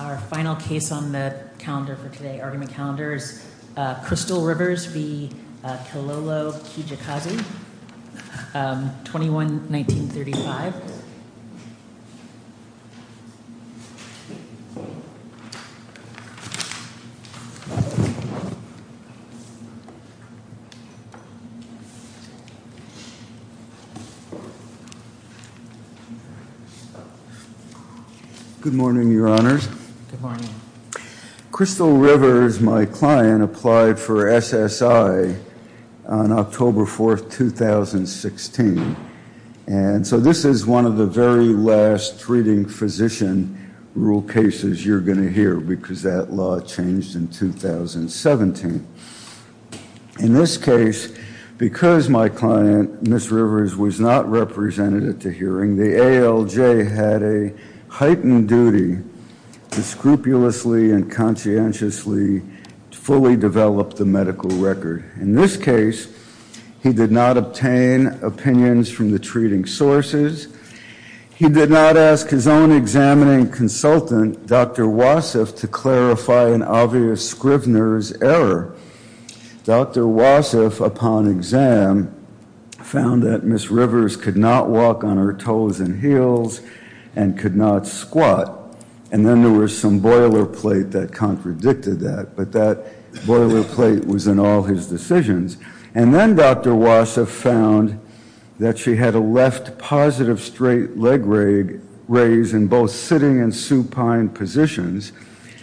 Our final case on the calendar for today argument calendars crystal rivers be kilolo Kijakazi 21 1935 Good morning, your honors Crystal rivers my client applied for SSI on October 4th 2016 and so this is one of the very last reading physician Rule cases you're going to hear because that law changed in 2017 in this case Because my client miss rivers was not representative to hearing the ALJ had a heightened duty to scrupulously and conscientiously Fully develop the medical record in this case. He did not obtain opinions from the treating sources He did not ask his own examining consultant. Dr. Wassef to clarify an obvious Scrivener's error Dr. Wassef upon exam Found that miss rivers could not walk on her toes and heels and could not squat and then there was some Boiler plate that contradicted that but that boiler plate was in all his decisions and then dr Wassef found that she had a left positive straight leg rake raised in both sitting and supine positions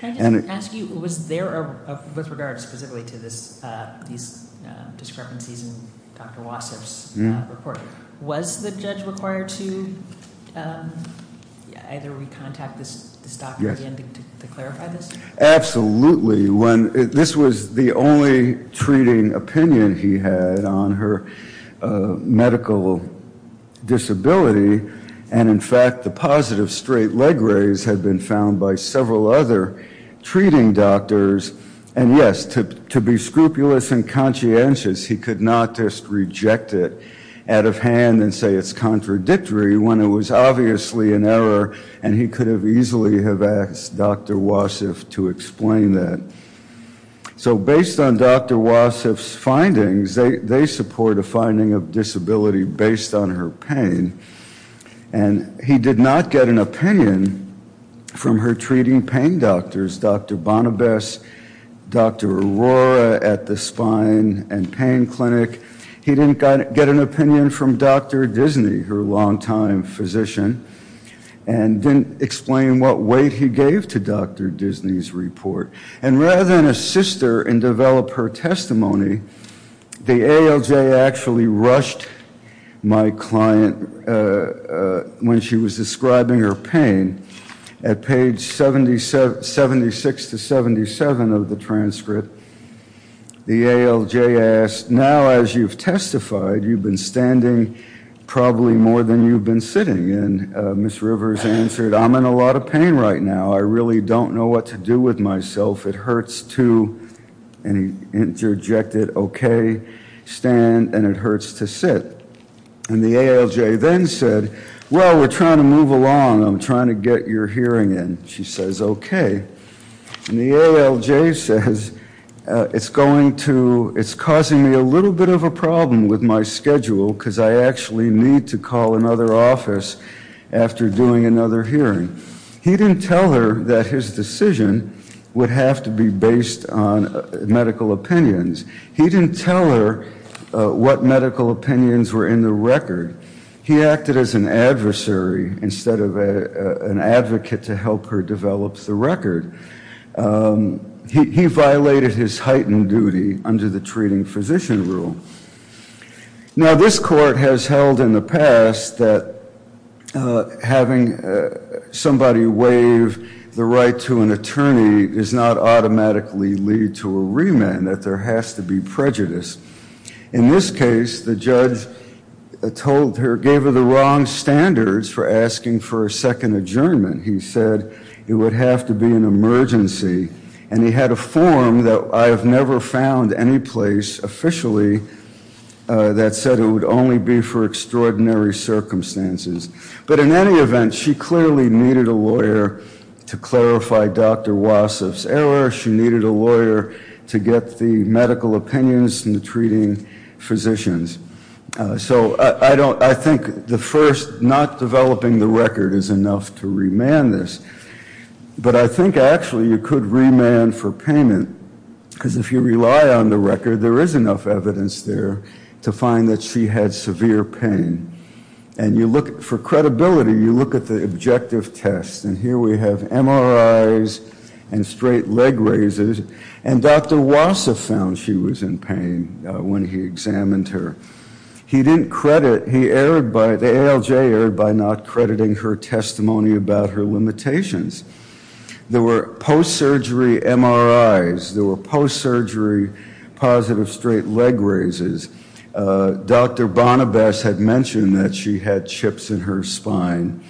Was the judge required to Absolutely when this was the only treating opinion he had on her medical Disability and in fact the positive straight leg raise had been found by several other Treating doctors and yes to be scrupulous and conscientious He could not just reject it out of hand and say it's contradictory when it was obviously an error And he could have easily have asked dr. Wassef to explain that So based on dr. Wassef findings, they support a finding of disability based on her pain and He did not get an opinion From her treating pain doctors, dr. Bonibus Dr. Aurora at the spine and pain clinic. He didn't get an opinion from dr Disney her longtime physician and Didn't explain what weight he gave to dr. Disney's report and rather than a sister and develop her testimony The ALJ actually rushed my client When she was describing her pain at page 77 277 of the transcript The ALJ asked now as you've testified you've been standing Probably more than you've been sitting and Miss Rivers answered. I'm in a lot of pain right now I really don't know what to do with myself. It hurts to any Interjected okay Stand and it hurts to sit and the ALJ then said well, we're trying to move along I'm trying to get your hearing in she says, okay and the ALJ says It's going to it's causing me a little bit of a problem with my schedule because I actually need to call another office After doing another hearing he didn't tell her that his decision would have to be based on Medical opinions. He didn't tell her What medical opinions were in the record he acted as an adversary instead of an advocate to help her? develops the record He violated his heightened duty under the treating physician rule Now this court has held in the past that having Somebody waive the right to an attorney is not automatically lead to a remand that there has to be prejudice in this case the judge Told her gave her the wrong standards for asking for a second adjournment He said it would have to be an emergency and he had a form that I have never found any place officially That said it would only be for extraordinary Circumstances, but in any event she clearly needed a lawyer to clarify dr. Wassef's error She needed a lawyer to get the medical opinions and the treating physicians So I don't I think the first not developing the record is enough to remand this But I think actually you could remand for payment because if you rely on the record there is enough evidence there To find that she had severe pain And you look for credibility you look at the objective test and here we have MRIs and straight leg raises and Dr. Wassef found she was in pain when he examined her He didn't credit he erred by the ALJ erred by not crediting her testimony about her limitations There were post-surgery MRIs there were post-surgery positive straight leg raises Dr. Bonibus had mentioned that she had chips in her spine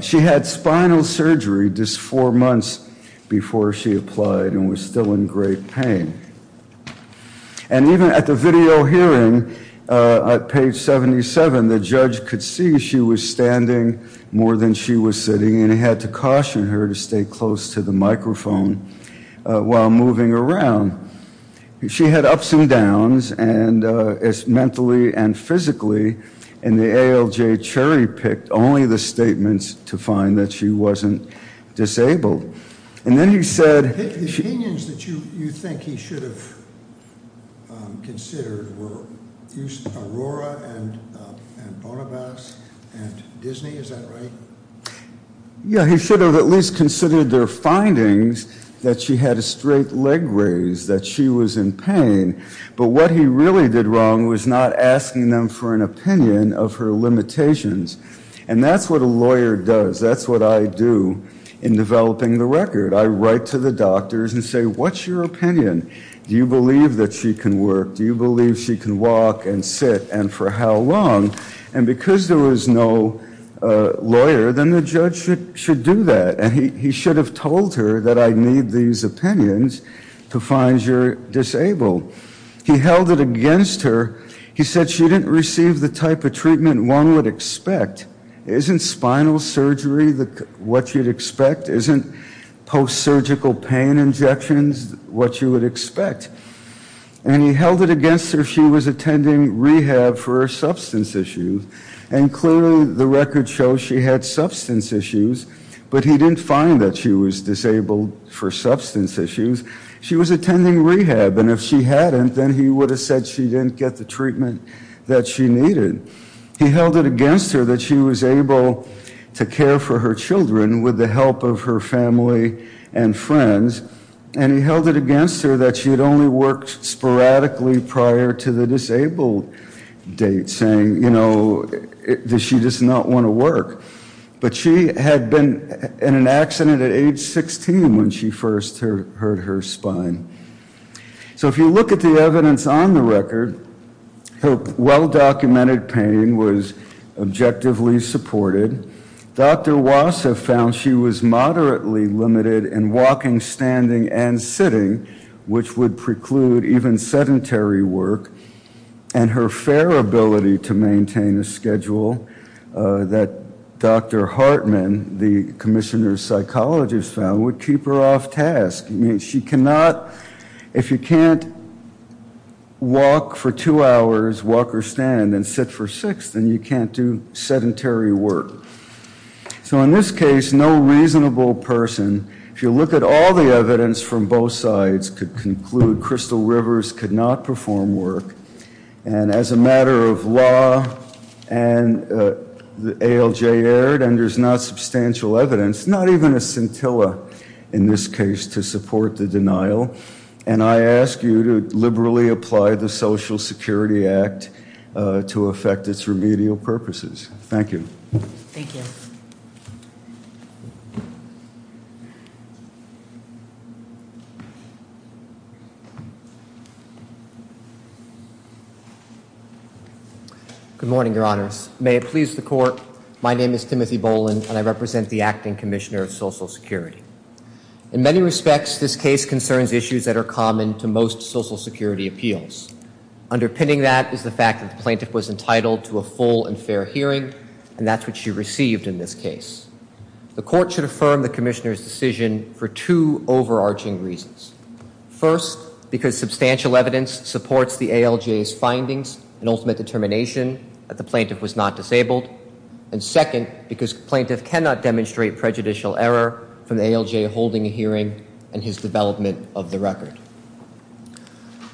She had spinal surgery just four months before she applied and was still in great pain and even at the video hearing At page 77 the judge could see she was standing more than she was sitting and he had to caution her to stay close to the microphone while moving around she had ups and downs and It's mentally and physically and the ALJ cherry-picked only the statements to find that she wasn't Disabled and then he said Yeah, he should have at least considered their findings that she had a straight leg raise that she was in pain But what he really did wrong was not asking them for an opinion of her limitations and that's what a lawyer does That's what I do in Developing the record I write to the doctors and say what's your opinion? Do you believe that she can work? Do you believe she can walk and sit and for how long and because there was no Lawyer, then the judge should should do that and he should have told her that I need these opinions to find your disabled He held it against her. He said she didn't receive the type of treatment one would expect Isn't spinal surgery the what you'd expect isn't post-surgical pain injections what you would expect And he held it against her. She was attending rehab for substance issues and clearly the record shows She had substance issues, but he didn't find that she was disabled for substance issues She was attending rehab and if she hadn't then he would have said she didn't get the treatment that she needed He held it against her that she was able to care for her children with the help of her family and friends And he held it against her that she had only worked sporadically prior to the disabled date saying, you know That she does not want to work But she had been in an accident at age 16 when she first heard her spine So if you look at the evidence on the record Hope well-documented pain was objectively supported Dr. Wassa found she was moderately limited in walking standing and sitting which would preclude even sedentary work and Her fair ability to maintain a schedule That dr. Hartman the commissioner's psychologist found would keep her off task. I mean she cannot if you can't Walk for two hours walk or stand and sit for six then you can't do sedentary work So in this case no reasonable person if you look at all the evidence from both sides could conclude Crystal Rivers could not perform work and as a matter of law and The ALJ erred and there's not substantial evidence Not even a scintilla in this case to support the denial and I ask you to liberally apply the Social Security Act To affect its remedial purposes. Thank you Good morning, your honor's may it please the court. My name is Timothy Boland and I represent the acting commissioner of Social Security In many respects. This case concerns issues that are common to most Social Security appeals Underpinning that is the fact that the plaintiff was entitled to a full and fair hearing and that's what she received in this case The court should affirm the commissioners decision for two overarching reasons First because substantial evidence supports the ALJ's findings an ultimate determination that the plaintiff was not disabled and Second because plaintiff cannot demonstrate prejudicial error from the ALJ holding a hearing and his development of the record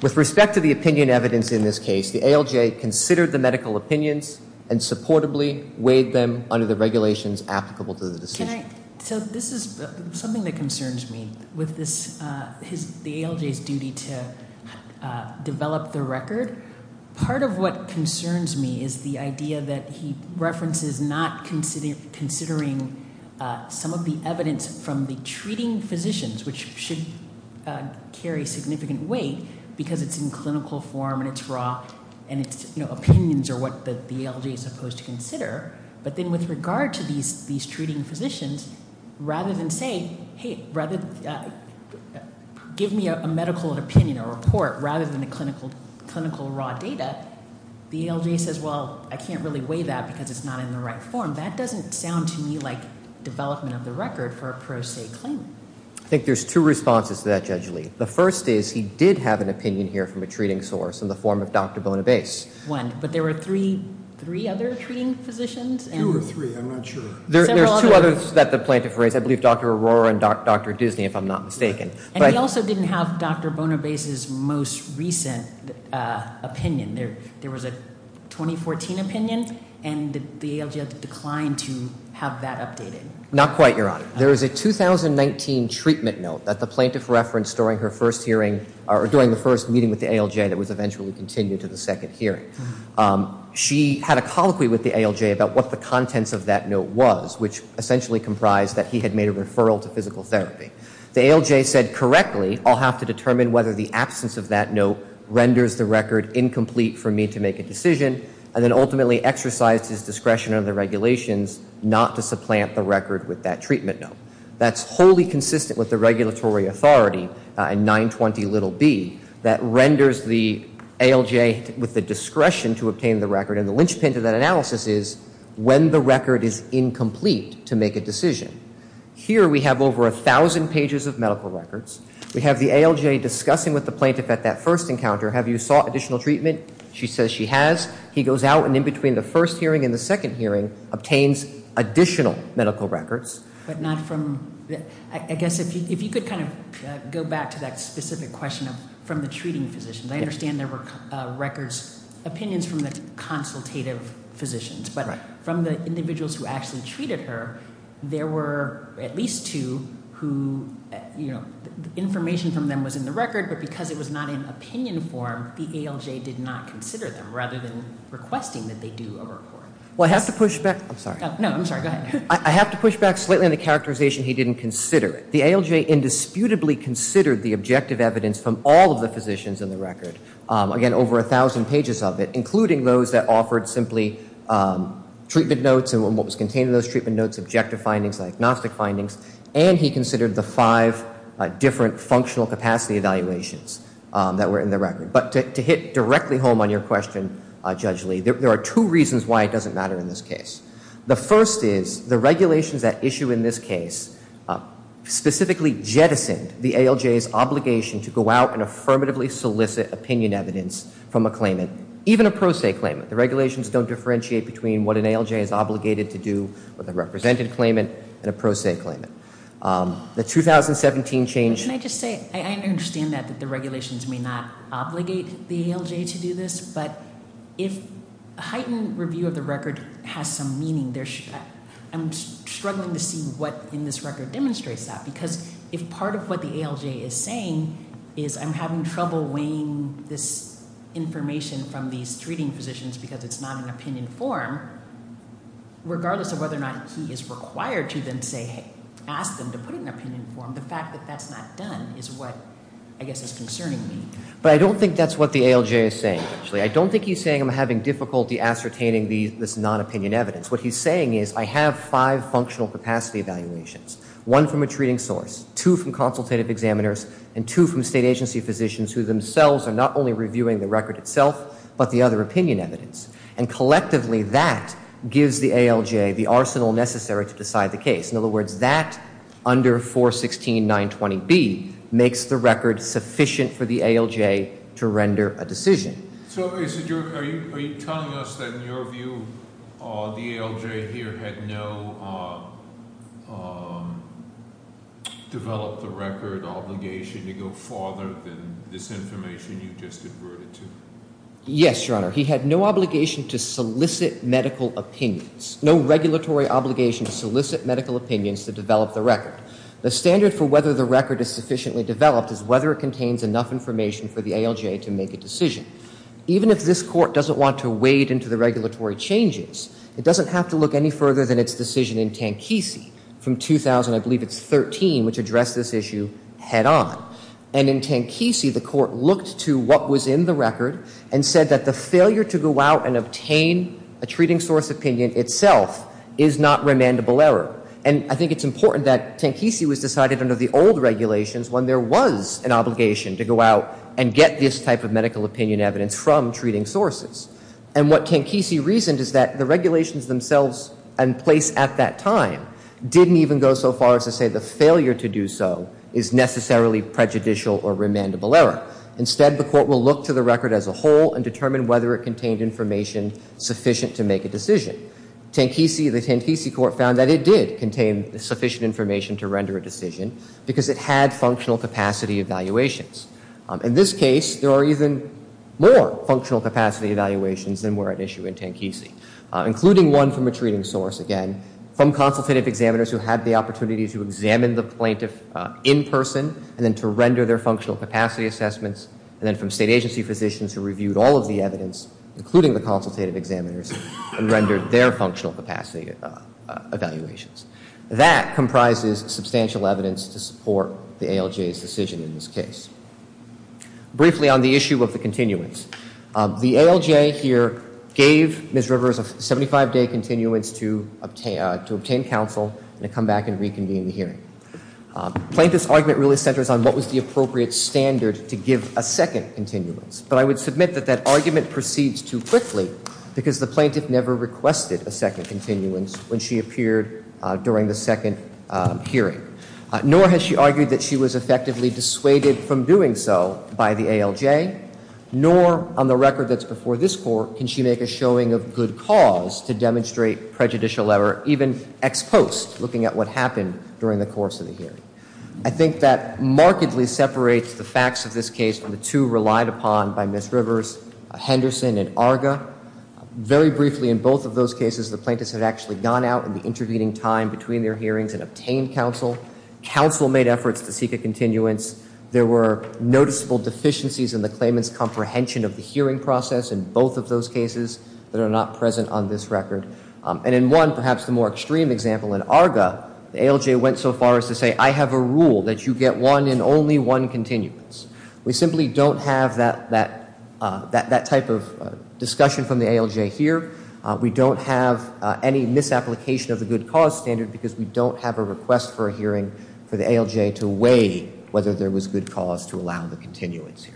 with respect to the opinion evidence in this case the ALJ considered the medical opinions and Supportably weighed them under the regulations applicable to the decision So this is something that concerns me with this his the ALJ's duty to Develop the record part of what concerns me is the idea that he references not considered considering some of the evidence from the treating physicians which should Carry significant weight because it's in clinical form and it's raw and it's you know opinions or what the ALJ is supposed to consider But then with regard to these these treating physicians rather than say hey rather Give me a medical opinion or report rather than a clinical clinical raw data The ALJ says well, I can't really weigh that because it's not in the right form That doesn't sound to me like development of the record for a pro se claim I think there's two responses to that Judge Lee The first is he did have an opinion here from a treating source in the form of Dr. Bonobase one, but there were three three other treating physicians There's two others that the plaintiff raised. I believe dr. Aurora and dr. Disney if I'm not mistaken, but I also didn't have dr Bonobase is most recent opinion there there was a 2014 opinion and the ALJ declined to have that updated not quite your honor There is a 2019 treatment note that the plaintiff referenced during her first hearing or during the first meeting with the ALJ that was eventually continued to the second hearing She had a colloquy with the ALJ about what the contents of that note was which essentially comprised that he had made a referral to Physical therapy the ALJ said correctly I'll have to determine whether the absence of that note Renders the record incomplete for me to make a decision and then ultimately exercised his discretion under the regulations Not to supplant the record with that treatment note. That's wholly consistent with the regulatory authority And 920 little B that renders the ALJ with the discretion to obtain the record and the linchpin to that analysis is when the record is incomplete to make a decision Here we have over a thousand pages of medical records We have the ALJ discussing with the plaintiff at that first encounter. Have you saw additional treatment? She says she has he goes out and in between the first hearing and the second hearing obtains Additional medical records but not from I guess if you could kind of go back to that specific question of from the treating Physicians, I understand there were records opinions from the consultative physicians But from the individuals who actually treated her there were at least two who you know Information from them was in the record But because it was not in opinion form the ALJ did not consider them rather than requesting that they do a report Well, I have to push back. I'm sorry. No, I'm sorry. I have to push back slightly in the characterization He didn't consider it the ALJ Indisputably considered the objective evidence from all of the physicians in the record again over a thousand pages of it including those that offered simply Treatment notes and what was contained in those treatment notes objective findings and agnostic findings and he considered the five different functional capacity evaluations that were in the record But to hit directly home on your question, Judge Lee, there are two reasons why it doesn't matter in this case The first is the regulations that issue in this case Specifically jettisoned the ALJ's obligation to go out and affirmatively solicit opinion evidence from a claimant Even a pro se claimant the regulations don't differentiate between what an ALJ is obligated to do with a represented claimant and a pro se claimant The 2017 change Can I just say I understand that that the regulations may not obligate the ALJ to do this but if a heightened review of the record has some meaning there should I'm Struggling to see what in this record demonstrates that because if part of what the ALJ is saying is I'm having trouble weighing this Information from these treating physicians because it's not an opinion form Regardless of whether or not he is required to then say hey ask them to put an opinion form the fact that that's not done Is what I guess is concerning me, but I don't think that's what the ALJ is saying Actually, I don't think he's saying I'm having difficulty ascertaining these this non-opinion evidence What he's saying is I have five functional capacity evaluations one from a treating source two from consultative examiners and two from state agency physicians who themselves are not only reviewing the record itself, but the other opinion evidence and Collectively that gives the ALJ the arsenal necessary to decide the case in other words that Under 416 920 B makes the record sufficient for the ALJ to render a decision So is it your are you telling us that in your view the ALJ here had no Developed the record obligation to go farther than this information you just adverted to Yes, your honor. He had no obligation to solicit medical opinions No regulatory obligation to solicit medical opinions to develop the record the standard for whether the record is sufficiently developed is whether it contains Enough information for the ALJ to make a decision even if this court doesn't want to wade into the regulatory changes It doesn't have to look any further than its decision in tank easy from 2000 I believe it's 13 which addressed this issue head-on and in tank easy the court looked to what was in the record and Said that the failure to go out and obtain a treating source opinion itself is not remandable error And I think it's important that tank easy was decided under the old regulations when there was an obligation to go out and get this type of medical opinion evidence from treating sources and What can kisi reasoned is that the regulations themselves and place at that time? Didn't even go so far as to say the failure to do so is necessarily prejudicial or remandable error Instead the court will look to the record as a whole and determine whether it contained information Sufficient to make a decision Tank easy the tank easy court found that it did contain the sufficient information to render a decision because it had functional capacity evaluations In this case there are even more functional capacity evaluations, and we're at issue in tank easy Including one from a treating source again from consultative examiners who had the opportunity to examine the plaintiff In person and then to render their functional capacity assessments and then from state agency physicians who reviewed all of the evidence Including the consultative examiners and rendered their functional capacity Evaluations that comprises substantial evidence to support the ALJ's decision in this case briefly on the issue of the continuance The ALJ here gave Miss Rivers of 75-day continuance to obtain to obtain counsel and to come back and reconvene the hearing Plaintiff's argument really centers on what was the appropriate standard to give a second continuance? But I would submit that that argument proceeds too quickly because the plaintiff never requested a second continuance when she appeared during the second Hearing nor has she argued that she was effectively dissuaded from doing so by the ALJ Nor on the record that's before this court Can she make a showing of good cause to demonstrate prejudicial error even ex post looking at what happened during the course of the hearing? I think that markedly separates the facts of this case from the two relied upon by Miss Rivers Henderson and Arga Very briefly in both of those cases the plaintiffs had actually gone out in the intervening time between their hearings and obtained counsel Counsel made efforts to seek a continuance There were noticeable deficiencies in the claimants comprehension of the hearing process in both of those cases That are not present on this record And in one perhaps the more extreme example in Arga the ALJ went so far as to say I have a rule that you get One and only one continuance. We simply don't have that that that that type of discussion from the ALJ here We don't have any misapplication of the good cause standard because we don't have a request for a hearing for the ALJ to weigh Whether there was good cause to allow the continuance here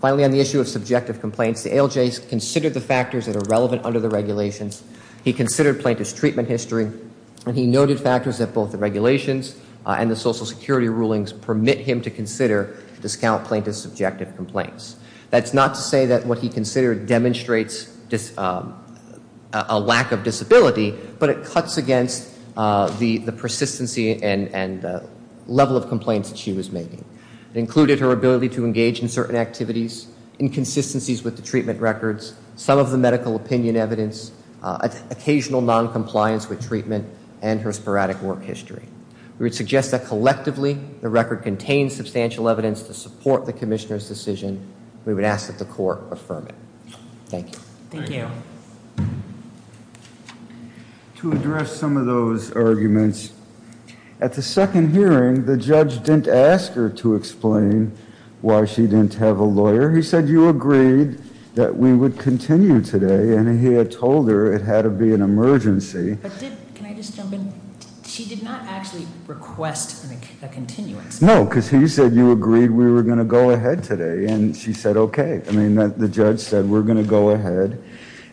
Finally on the issue of subjective complaints the ALJ's considered the factors that are relevant under the regulations He considered plaintiff's treatment history And he noted factors that both the regulations and the Social Security rulings permit him to consider Discount plaintiff's subjective complaints. That's not to say that what he considered demonstrates just a lack of disability, but it cuts against the the persistency and and Level of complaints that she was making it included her ability to engage in certain activities inconsistencies with the treatment records some of the medical opinion evidence Occasional non-compliance with treatment and her sporadic work history We would suggest that collectively the record contains substantial evidence to support the commissioners decision. We would ask that the court affirm it Thank you To address some of those arguments At the second hearing the judge didn't ask her to explain why she didn't have a lawyer He said you agreed that we would continue today, and he had told her it had to be an emergency No because he said you agreed we were gonna go ahead today, and she said okay I mean that the judge said we're gonna go ahead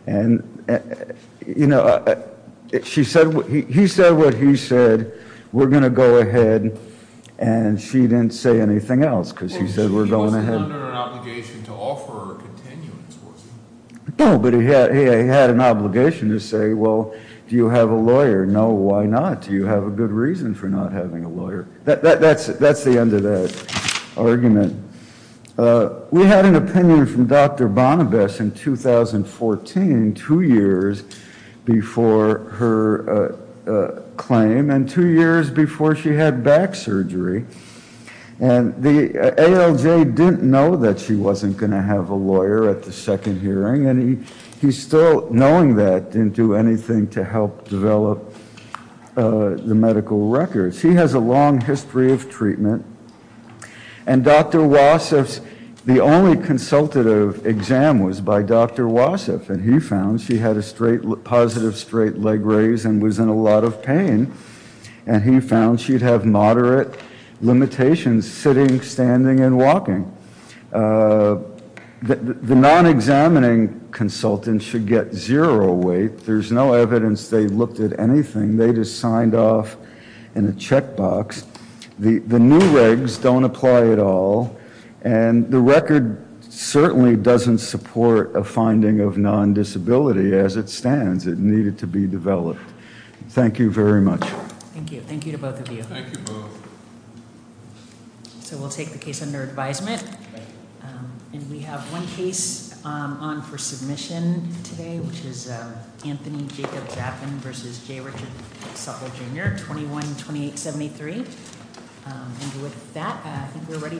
and You know She said he said what he said we're gonna go ahead, and she didn't say anything else because he said we're going ahead No, but he had he had an obligation to say well, do you have a lawyer? No, why not do you have a good reason for not having a lawyer that that's that's the end of that argument We had an opinion from dr. Bonibus in 2014 two years before her claim and two years before she had back surgery and the ALJ didn't know that she wasn't gonna have a lawyer at the second hearing and he he's still knowing that didn't do anything to help develop The medical records she has a long history of treatment and Dr. Wassef's the only consultative exam was by dr. Wassef and he found she had a straight positive straight leg raise and was in a lot of pain and He found she'd have moderate limitations sitting standing and walking The non-examining Consultants should get zero weight. There's no evidence. They looked at anything. They just signed off in a checkbox The the new regs don't apply at all and the record Certainly doesn't support a finding of non-disability as it stands it needed to be developed. Thank you very much So we'll take the case under advisement And we have one case on for submission 21 28 73 And with that we're ready to adjourn